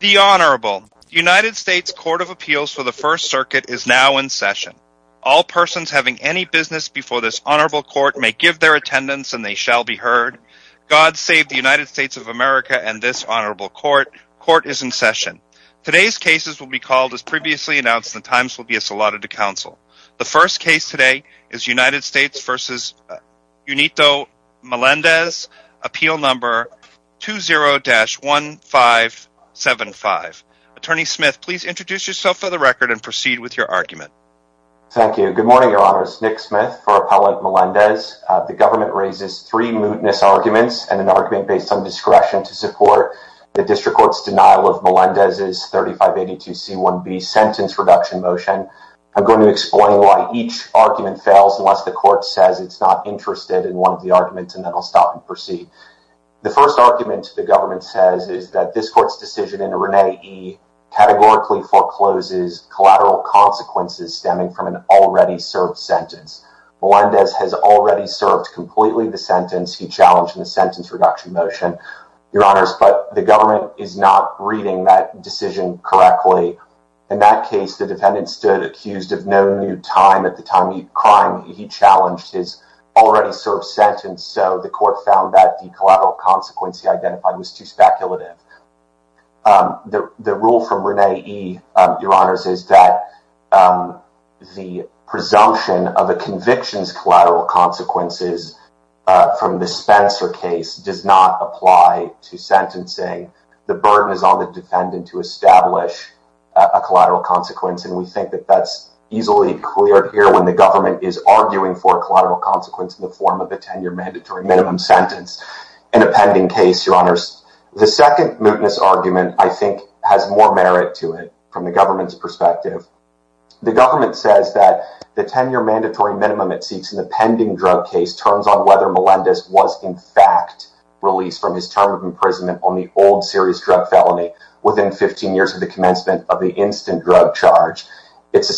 The Honorable United States Court of Appeals for the First Circuit is now in session. All persons having any business before this Honorable Court may give their attendance and they shall be heard. God save the United States of America and this Honorable Court. Court is in session. Today's cases will be called as previously announced. The times will be Attorney Smith, please introduce yourself for the record and proceed with your argument. Thank you. Good morning, Your Honors. Nick Smith for Appellant Melendez. The government raises three mootness arguments and an argument based on discretion to support the District Court's denial of Melendez's 3582C1B sentence reduction motion. I'm going to explain why each argument fails unless the court says it's not interested in one of the arguments and then I'll stop and proceed. The first argument the government says is that this court's decision in Renee E. categorically forecloses collateral consequences stemming from an already served sentence. Melendez has already served completely the sentence he challenged in the sentence reduction motion, Your Honors, but the government is not reading that decision correctly. In that case, the defendant stood accused of no new time. At the time of the crime, he challenged his already served sentence, so the court found that the decision was speculative. The rule from Renee E. is that the presumption of a conviction's collateral consequences from the Spencer case does not apply to sentencing. The burden is on the defendant to establish a collateral consequence and we think that that's easily cleared here when the government is arguing for a collateral consequence in the form of a 10-year mandatory minimum sentence in a pending case, Your Honors. The second mootness argument, I think, has more merit to it from the government's perspective. The government says that the 10-year mandatory minimum it seeks in the pending drug case turns on whether Melendez was, in fact, released from his term of imprisonment on the old serious drug felony within 15 years of the commencement of the instant drug charge. Its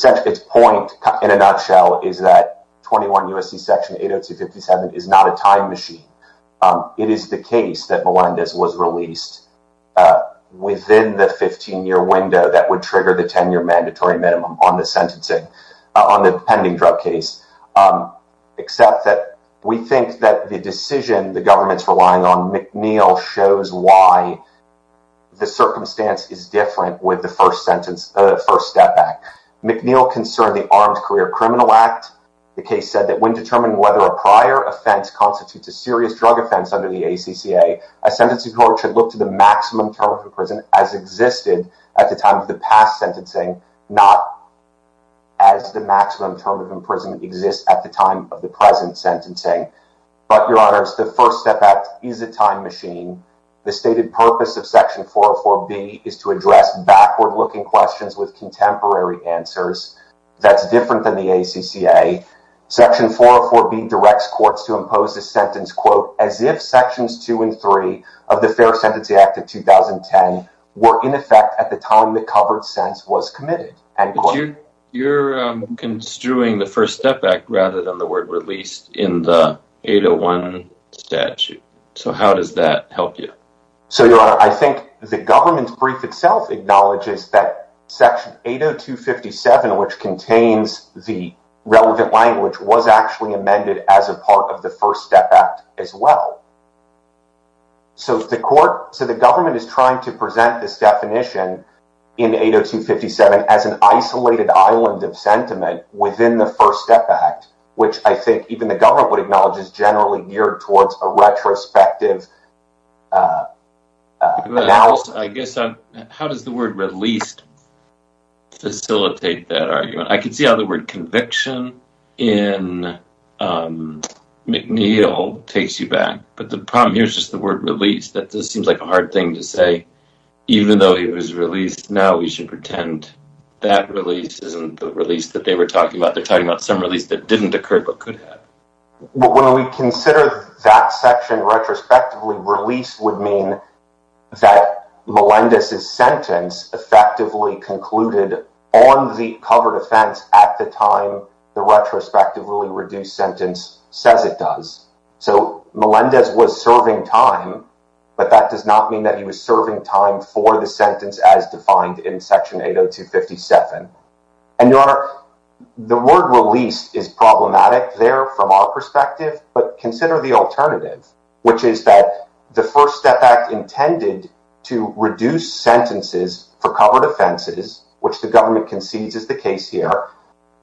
point, in a nutshell, is that 21 U.S.C. Section 802.57 is not a time machine. It is the case that Melendez was released within the 15-year window that would trigger the 10-year mandatory minimum on the sentencing on the pending drug case, except that we think that the decision the government's relying on McNeil shows why the circumstance is different with the first sentence, the first step back. McNeil concerned the Armed Career Criminal Act. The case said that when determining whether a prior offense constitutes a serious drug offense under the ACCA, a sentencing court should look to the maximum term of imprisonment as existed at the time of the past sentencing, not as the maximum term of imprisonment exists at the time of the present sentencing. But, Your Honors, the First Step Act is a time machine. The stated purpose of Section 404B is to address backward- You're construing the First Step Act rather than the word released in the 801 statute. So how does that help you? So, Your Honor, I think the government's brief itself acknowledges that 802.57, which contains the relevant language, was actually amended as a part of the First Step Act as well. So the government is trying to present this definition in 802.57 as an isolated island of sentiment within the First Step Act, which I think even the government would acknowledge is geared towards a retrospective analysis. How does the word released facilitate that argument? I can see how the word conviction in McNeil takes you back, but the problem here is just the word released. That just seems like a hard thing to say. Even though it was released, now we should pretend that release isn't the release that they were talking about. They're talking about some that didn't occur but could have. When we consider that section retrospectively, released would mean that Melendez's sentence effectively concluded on the covered offense at the time the retrospectively reduced sentence says it does. So Melendez was serving time, but that does not mean that he was serving time for the sentence as defined in Section 802.57. Your Honor, the word released is problematic there from our perspective, but consider the alternative, which is that the First Step Act intended to reduce sentences for covered offenses, which the government concedes is the case here,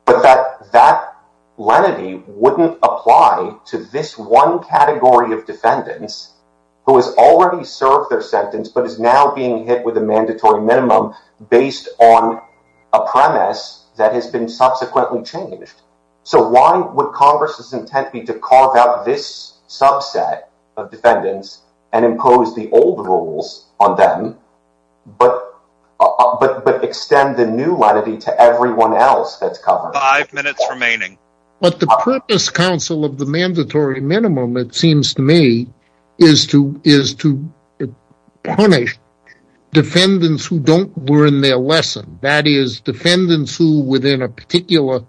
but that that lenity wouldn't apply to this one category of defendants who has already served their sentence but is now being hit with a premise that has been subsequently changed. So why would Congress's intent be to carve out this subset of defendants and impose the old rules on them but extend the new lenity to everyone else that's covered? Five minutes remaining. But the purpose, counsel, of the mandatory minimum, it seems to me, is to punish defendants who don't learn their lesson. That is, defendants who within a particular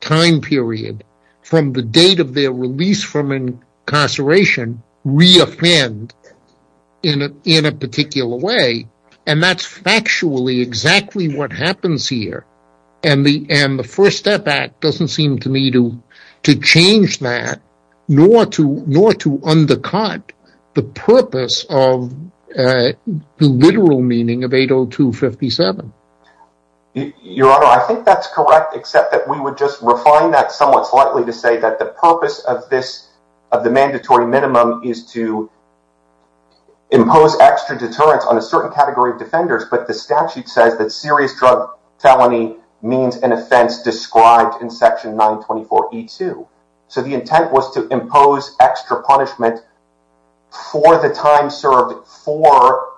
time period from the date of their release from incarceration re-offend in a particular way. And that's factually exactly what happens here. And the First Step Act doesn't seem to me nor to undercut the purpose of the literal meaning of 802.57. Your Honor, I think that's correct, except that we would just refine that somewhat slightly to say that the purpose of the mandatory minimum is to impose extra deterrence on a certain category of defenders, but the statute says that serious drug felony means an offense described in Section 924E2. So the intent was to impose extra punishment for the time served for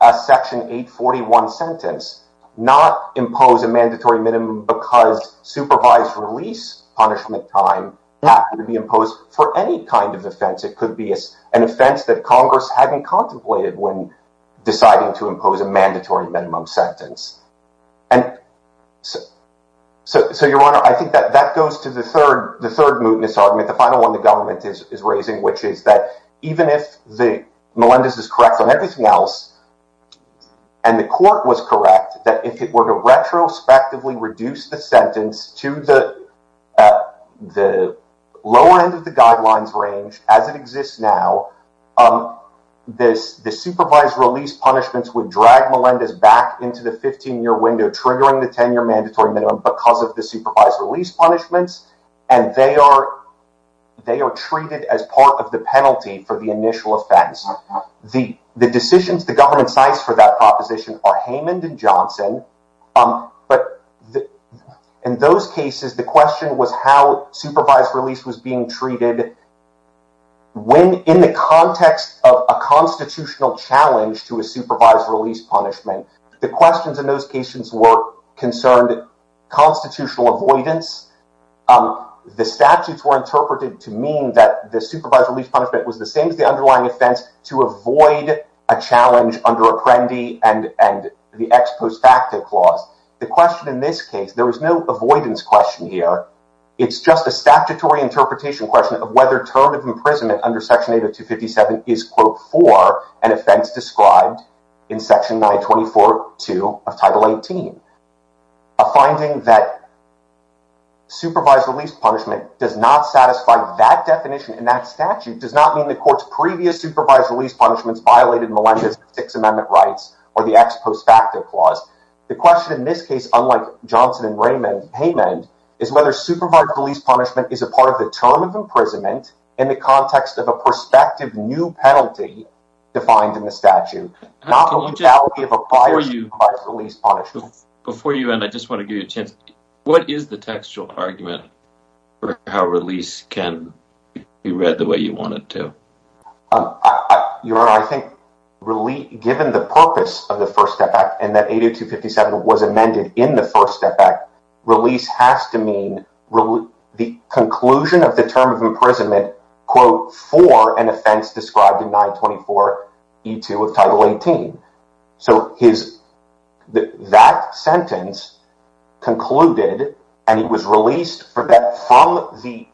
a Section 841 sentence, not impose a mandatory minimum because supervised release punishment time happened to be imposed for any kind of offense. It could be an offense that Congress hadn't contemplated when deciding to impose a mandatory minimum sentence. And so, Your Honor, I think that goes to the third mootness argument, the final one the government is raising, which is that even if Melendez is correct on everything else, and the court was correct, that if it were to retrospectively reduce the sentence to the lower end of the guidelines range as it exists now, the supervised release punishments would drag Melendez back into the 15-year window, triggering the 10-year mandatory minimum because of the supervised release punishments, and they are treated as part of the penalty for the initial offense. The decisions the government cites for that proposition are Heyman and Johnson, but in those cases, the question was how supervised release was being treated when, in the context of a constitutional challenge to a supervised release punishment, the questions in those cases were concerned constitutional avoidance. The statutes were interpreted to mean that the supervised release punishment was the same as the underlying offense to avoid a challenge under Apprendi and the ex post facto clause. The question in this case, there was no avoidance question here. It's just a statutory interpretation question of whether term of imprisonment under Section 80257 is, quote, for an offense described in Section 924.2 of Title 18. A finding that supervised release punishment does not satisfy that definition in that statute does not mean the court's previous supervised release punishments violated Melendez' Sixth Amendment rights or the ex post facto clause. The question in this case, unlike Johnson and Heyman, is whether supervised release punishment is a part of the term of imprisonment. Before you end, I just want to give you a chance. What is the textual argument for how release can be read the way you want it to? Your Honor, I think really given the purpose of the First Step Act and that 80257 was amended in the First Step Act, release has to mean the conclusion of the term of imprisonment, quote, for an offense described in 924.2 of Title 18. So that sentence concluded and he was released from the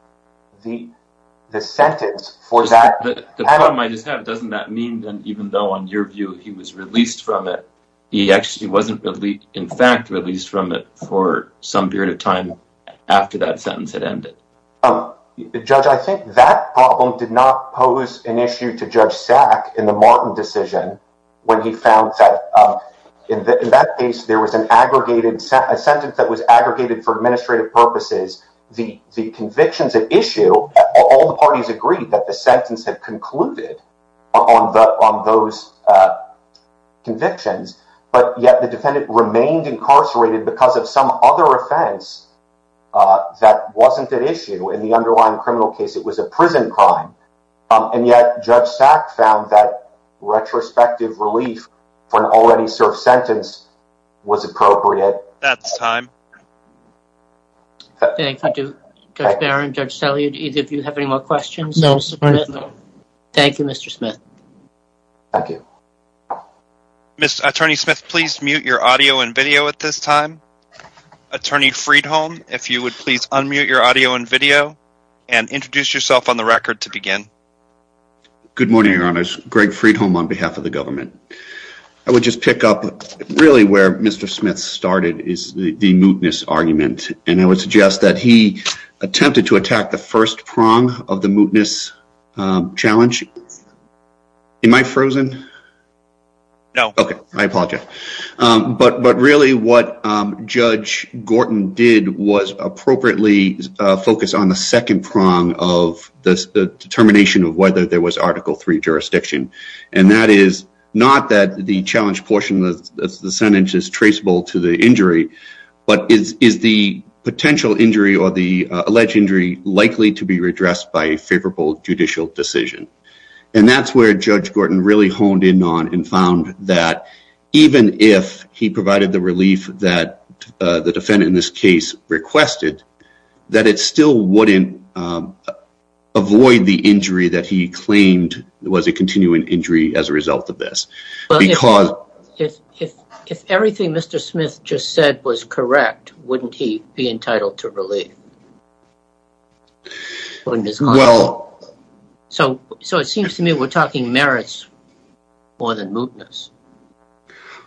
sentence for that. The problem I just have, doesn't that mean that even though on your view he was released from it, he actually wasn't in fact released from it for some period of time after that sentence had ended? Judge, I think that problem did not pose an issue to Judge Sack in the Martin decision when he found that in that case there was an aggregated sentence that was aggregated for administrative purposes. The convictions at issue, all the parties agreed that the sentence had concluded on those convictions, but yet the defendant remained incarcerated because of some other offense that wasn't at issue in the underlying criminal case. It was a prison crime and yet Judge Sack found that retrospective relief for an already served sentence was appropriate. That's time. Thank you. Judge Barron, Judge Salyud, either of you have any more questions? No. Thank you, Mr. Smith. Thank you. Attorney Smith, please mute your audio and video at this time. Attorney Friedholm, if you would please unmute your audio and video and introduce yourself on the record to begin. Good morning, Your Honors. Greg Friedholm on behalf of the government. I would just pick up really where Mr. Smith started is the mootness argument and I would suggest that he attempted to attack the first prong of the mootness challenge. Am I frozen? No. Okay. I apologize. But really what Judge Gorton did was appropriately focus on the second prong of the determination of whether there was Article III jurisdiction. And that is not that the challenge portion of the sentence is traceable to the injury, but is the potential injury or the alleged injury likely to be redressed by a favorable judicial decision? And that's where Judge Gorton really honed in on and found that even if he provided the relief that the defendant in this case requested, that it still wouldn't avoid the injury that he claimed was a continuing injury as a result of this. Because if everything Mr. Smith just said was correct, wouldn't he be entitled to more than mootness?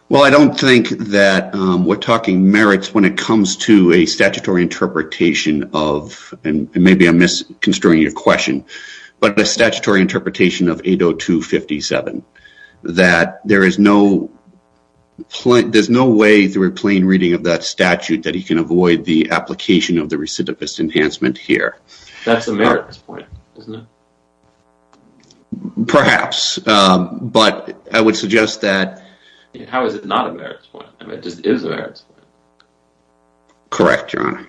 Well, I don't think that we're talking merits when it comes to a statutory interpretation of, and maybe I'm misconstruing your question, but a statutory interpretation of 802.57 that there's no way through a plain reading of that statute that he can avoid the application of the recidivist enhancement here. That's a merit at this point, isn't it? Perhaps, but I would suggest that... How is it not a merits point? I mean, it just is a merits point. Correct, Your Honor.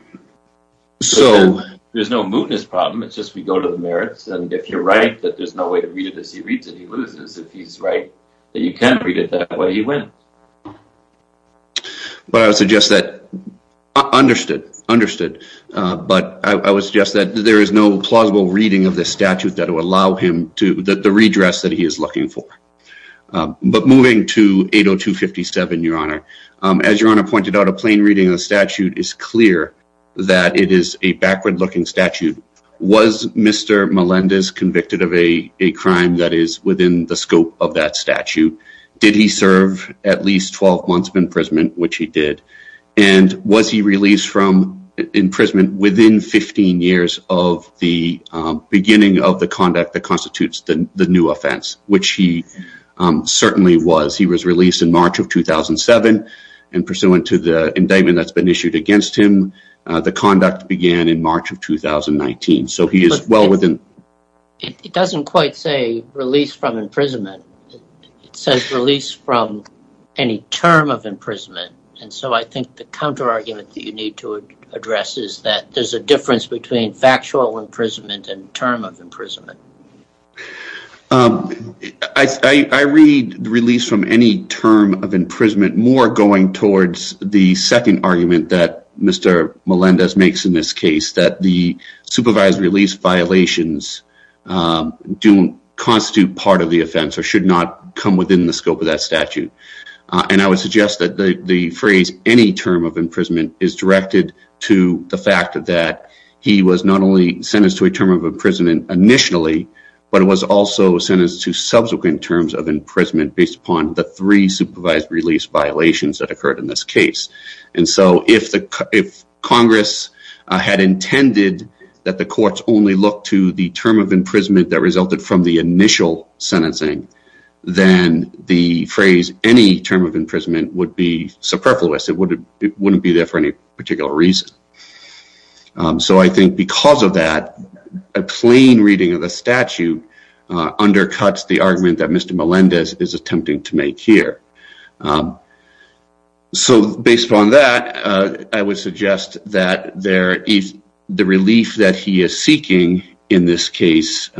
So there's no mootness problem, it's just we go to the merits and if you're right that there's no way to read it as he reads it, he loses. If he's right that you can read it that way, he wins. But I would suggest that... Understood, understood. But I would suggest that there is no plausible reading of this statute that will allow him to... the redress that he is looking for. But moving to 802.57, Your Honor. As Your Honor pointed out, a plain reading of the statute is clear that it is a backward-looking statute. Was Mr. Melendez convicted of a crime that is within the scope of that statute? Did he serve at least 12 months imprisonment, which he did, and was he released from imprisonment within 15 years of the beginning of the conduct that constitutes the new offense, which he certainly was. He was released in March of 2007 and pursuant to the indictment that's been issued against him, the conduct began in March of 2019. So he is well within... It doesn't quite say released from imprisonment. It says released from any term of imprisonment. And so I think the counter-argument that you need to address is that there's a difference between factual imprisonment and term of imprisonment. I read the release from any term of imprisonment more going towards the second argument that Mr. Melendez makes in this case, that the supervised release violations don't constitute part of the offense or should not come within the scope of that statute. And I would suggest that the phrase any term of imprisonment is directed to the fact that he was not only sentenced to a term of imprisonment initially, but it was also sentenced to subsequent terms of imprisonment based upon the three supervised release violations that occurred in this case. And so if Congress had intended that the courts only look to the term of imprisonment that resulted from the initial sentencing, then the phrase any term of imprisonment would be superfluous. It wouldn't be there for any particular reason. So I think because of that, a plain reading of the statute undercuts the argument that Mr. Melendez is attempting to make here. So based upon that, I would suggest that the relief that he is seeking in this case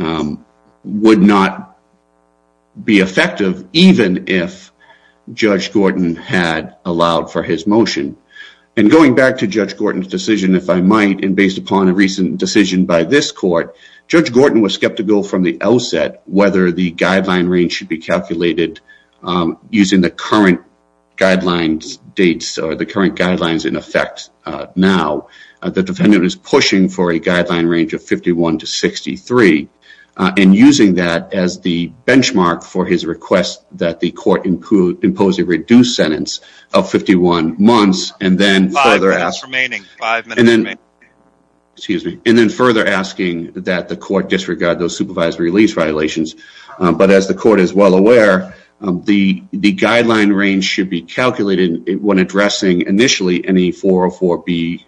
would not be effective even if Judge Gordon had allowed for his motion. And going back to Judge Gordon's decision, if I might, and based upon a recent decision by this court, Judge Gordon was should be calculated using the current guidelines in effect now. The defendant is pushing for a guideline range of 51 to 63, and using that as the benchmark for his request that the court impose a reduced sentence of 51 months, and then further asking that the court disregard those supervised release violations. But as the court is well aware, the guideline range should be calculated when addressing initially any 404B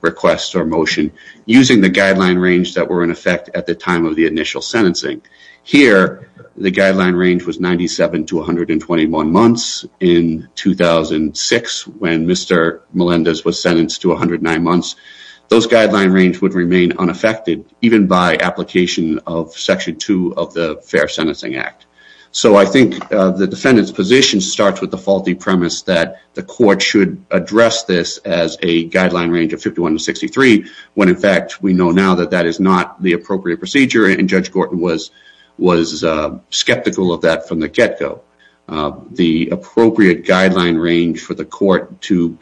requests or motion using the guideline range that were in effect at the time of the initial sentencing. Here, the guideline range was 97 to 121 months. In 2006, when Mr. Melendez was sentenced to 109 months, those guideline range would remain unaffected even by application of Section 2 of the Fair Sentencing Act. So I think the defendant's position starts with the faulty premise that the court should address this as a guideline range of 51 to 63, when in fact we know now that that is not the appropriate procedure, and Judge Gordon was was skeptical of that from the get-go. The appropriate guideline range for the court to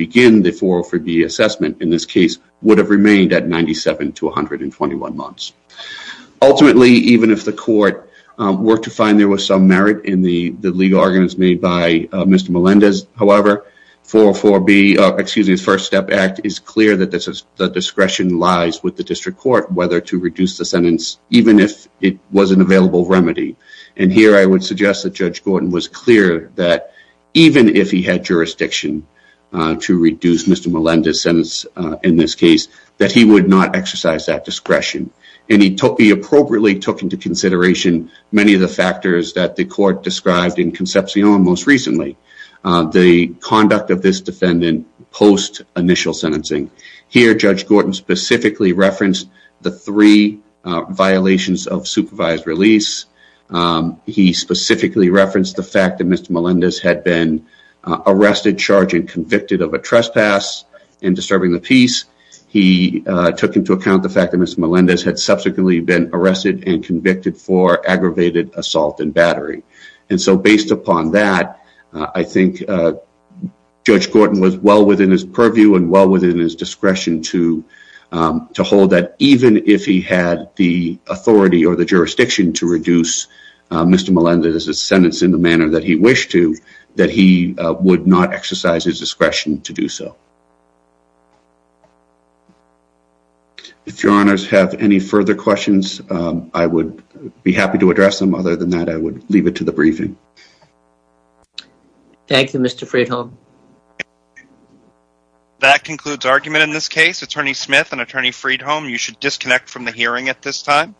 Ultimately, even if the court were to find there was some merit in the legal arguments made by Mr. Melendez, however, the First Step Act is clear that the discretion lies with the district court whether to reduce the sentence even if it was an available remedy, and here I would suggest that Judge Gordon was clear that even if he had jurisdiction to reduce Mr. Melendez's sentence in this case, that he would not exercise that discretion, and he appropriately took into consideration many of the factors that the court described in Concepcion most recently, the conduct of this defendant post-initial sentencing. Here, Judge Gordon specifically referenced the three violations of supervised release. He specifically referenced the fact that Mr. Melendez had been arrested, charged, and convicted of a trespass in disturbing the peace. He took into account the fact that Mr. Melendez had subsequently been arrested and convicted for aggravated assault and battery, and so based upon that, I think Judge Gordon was well within his purview and well within his discretion to reduce Mr. Melendez's sentence in the manner that he wished to, that he would not exercise his discretion to do so. If your honors have any further questions, I would be happy to address them. Other than that, I would leave it to the briefing. Thank you, Mr. Friedholm. That concludes argument in this case. Attorney Smith and Attorney Friedholm, you should disconnect from the hearing at this time.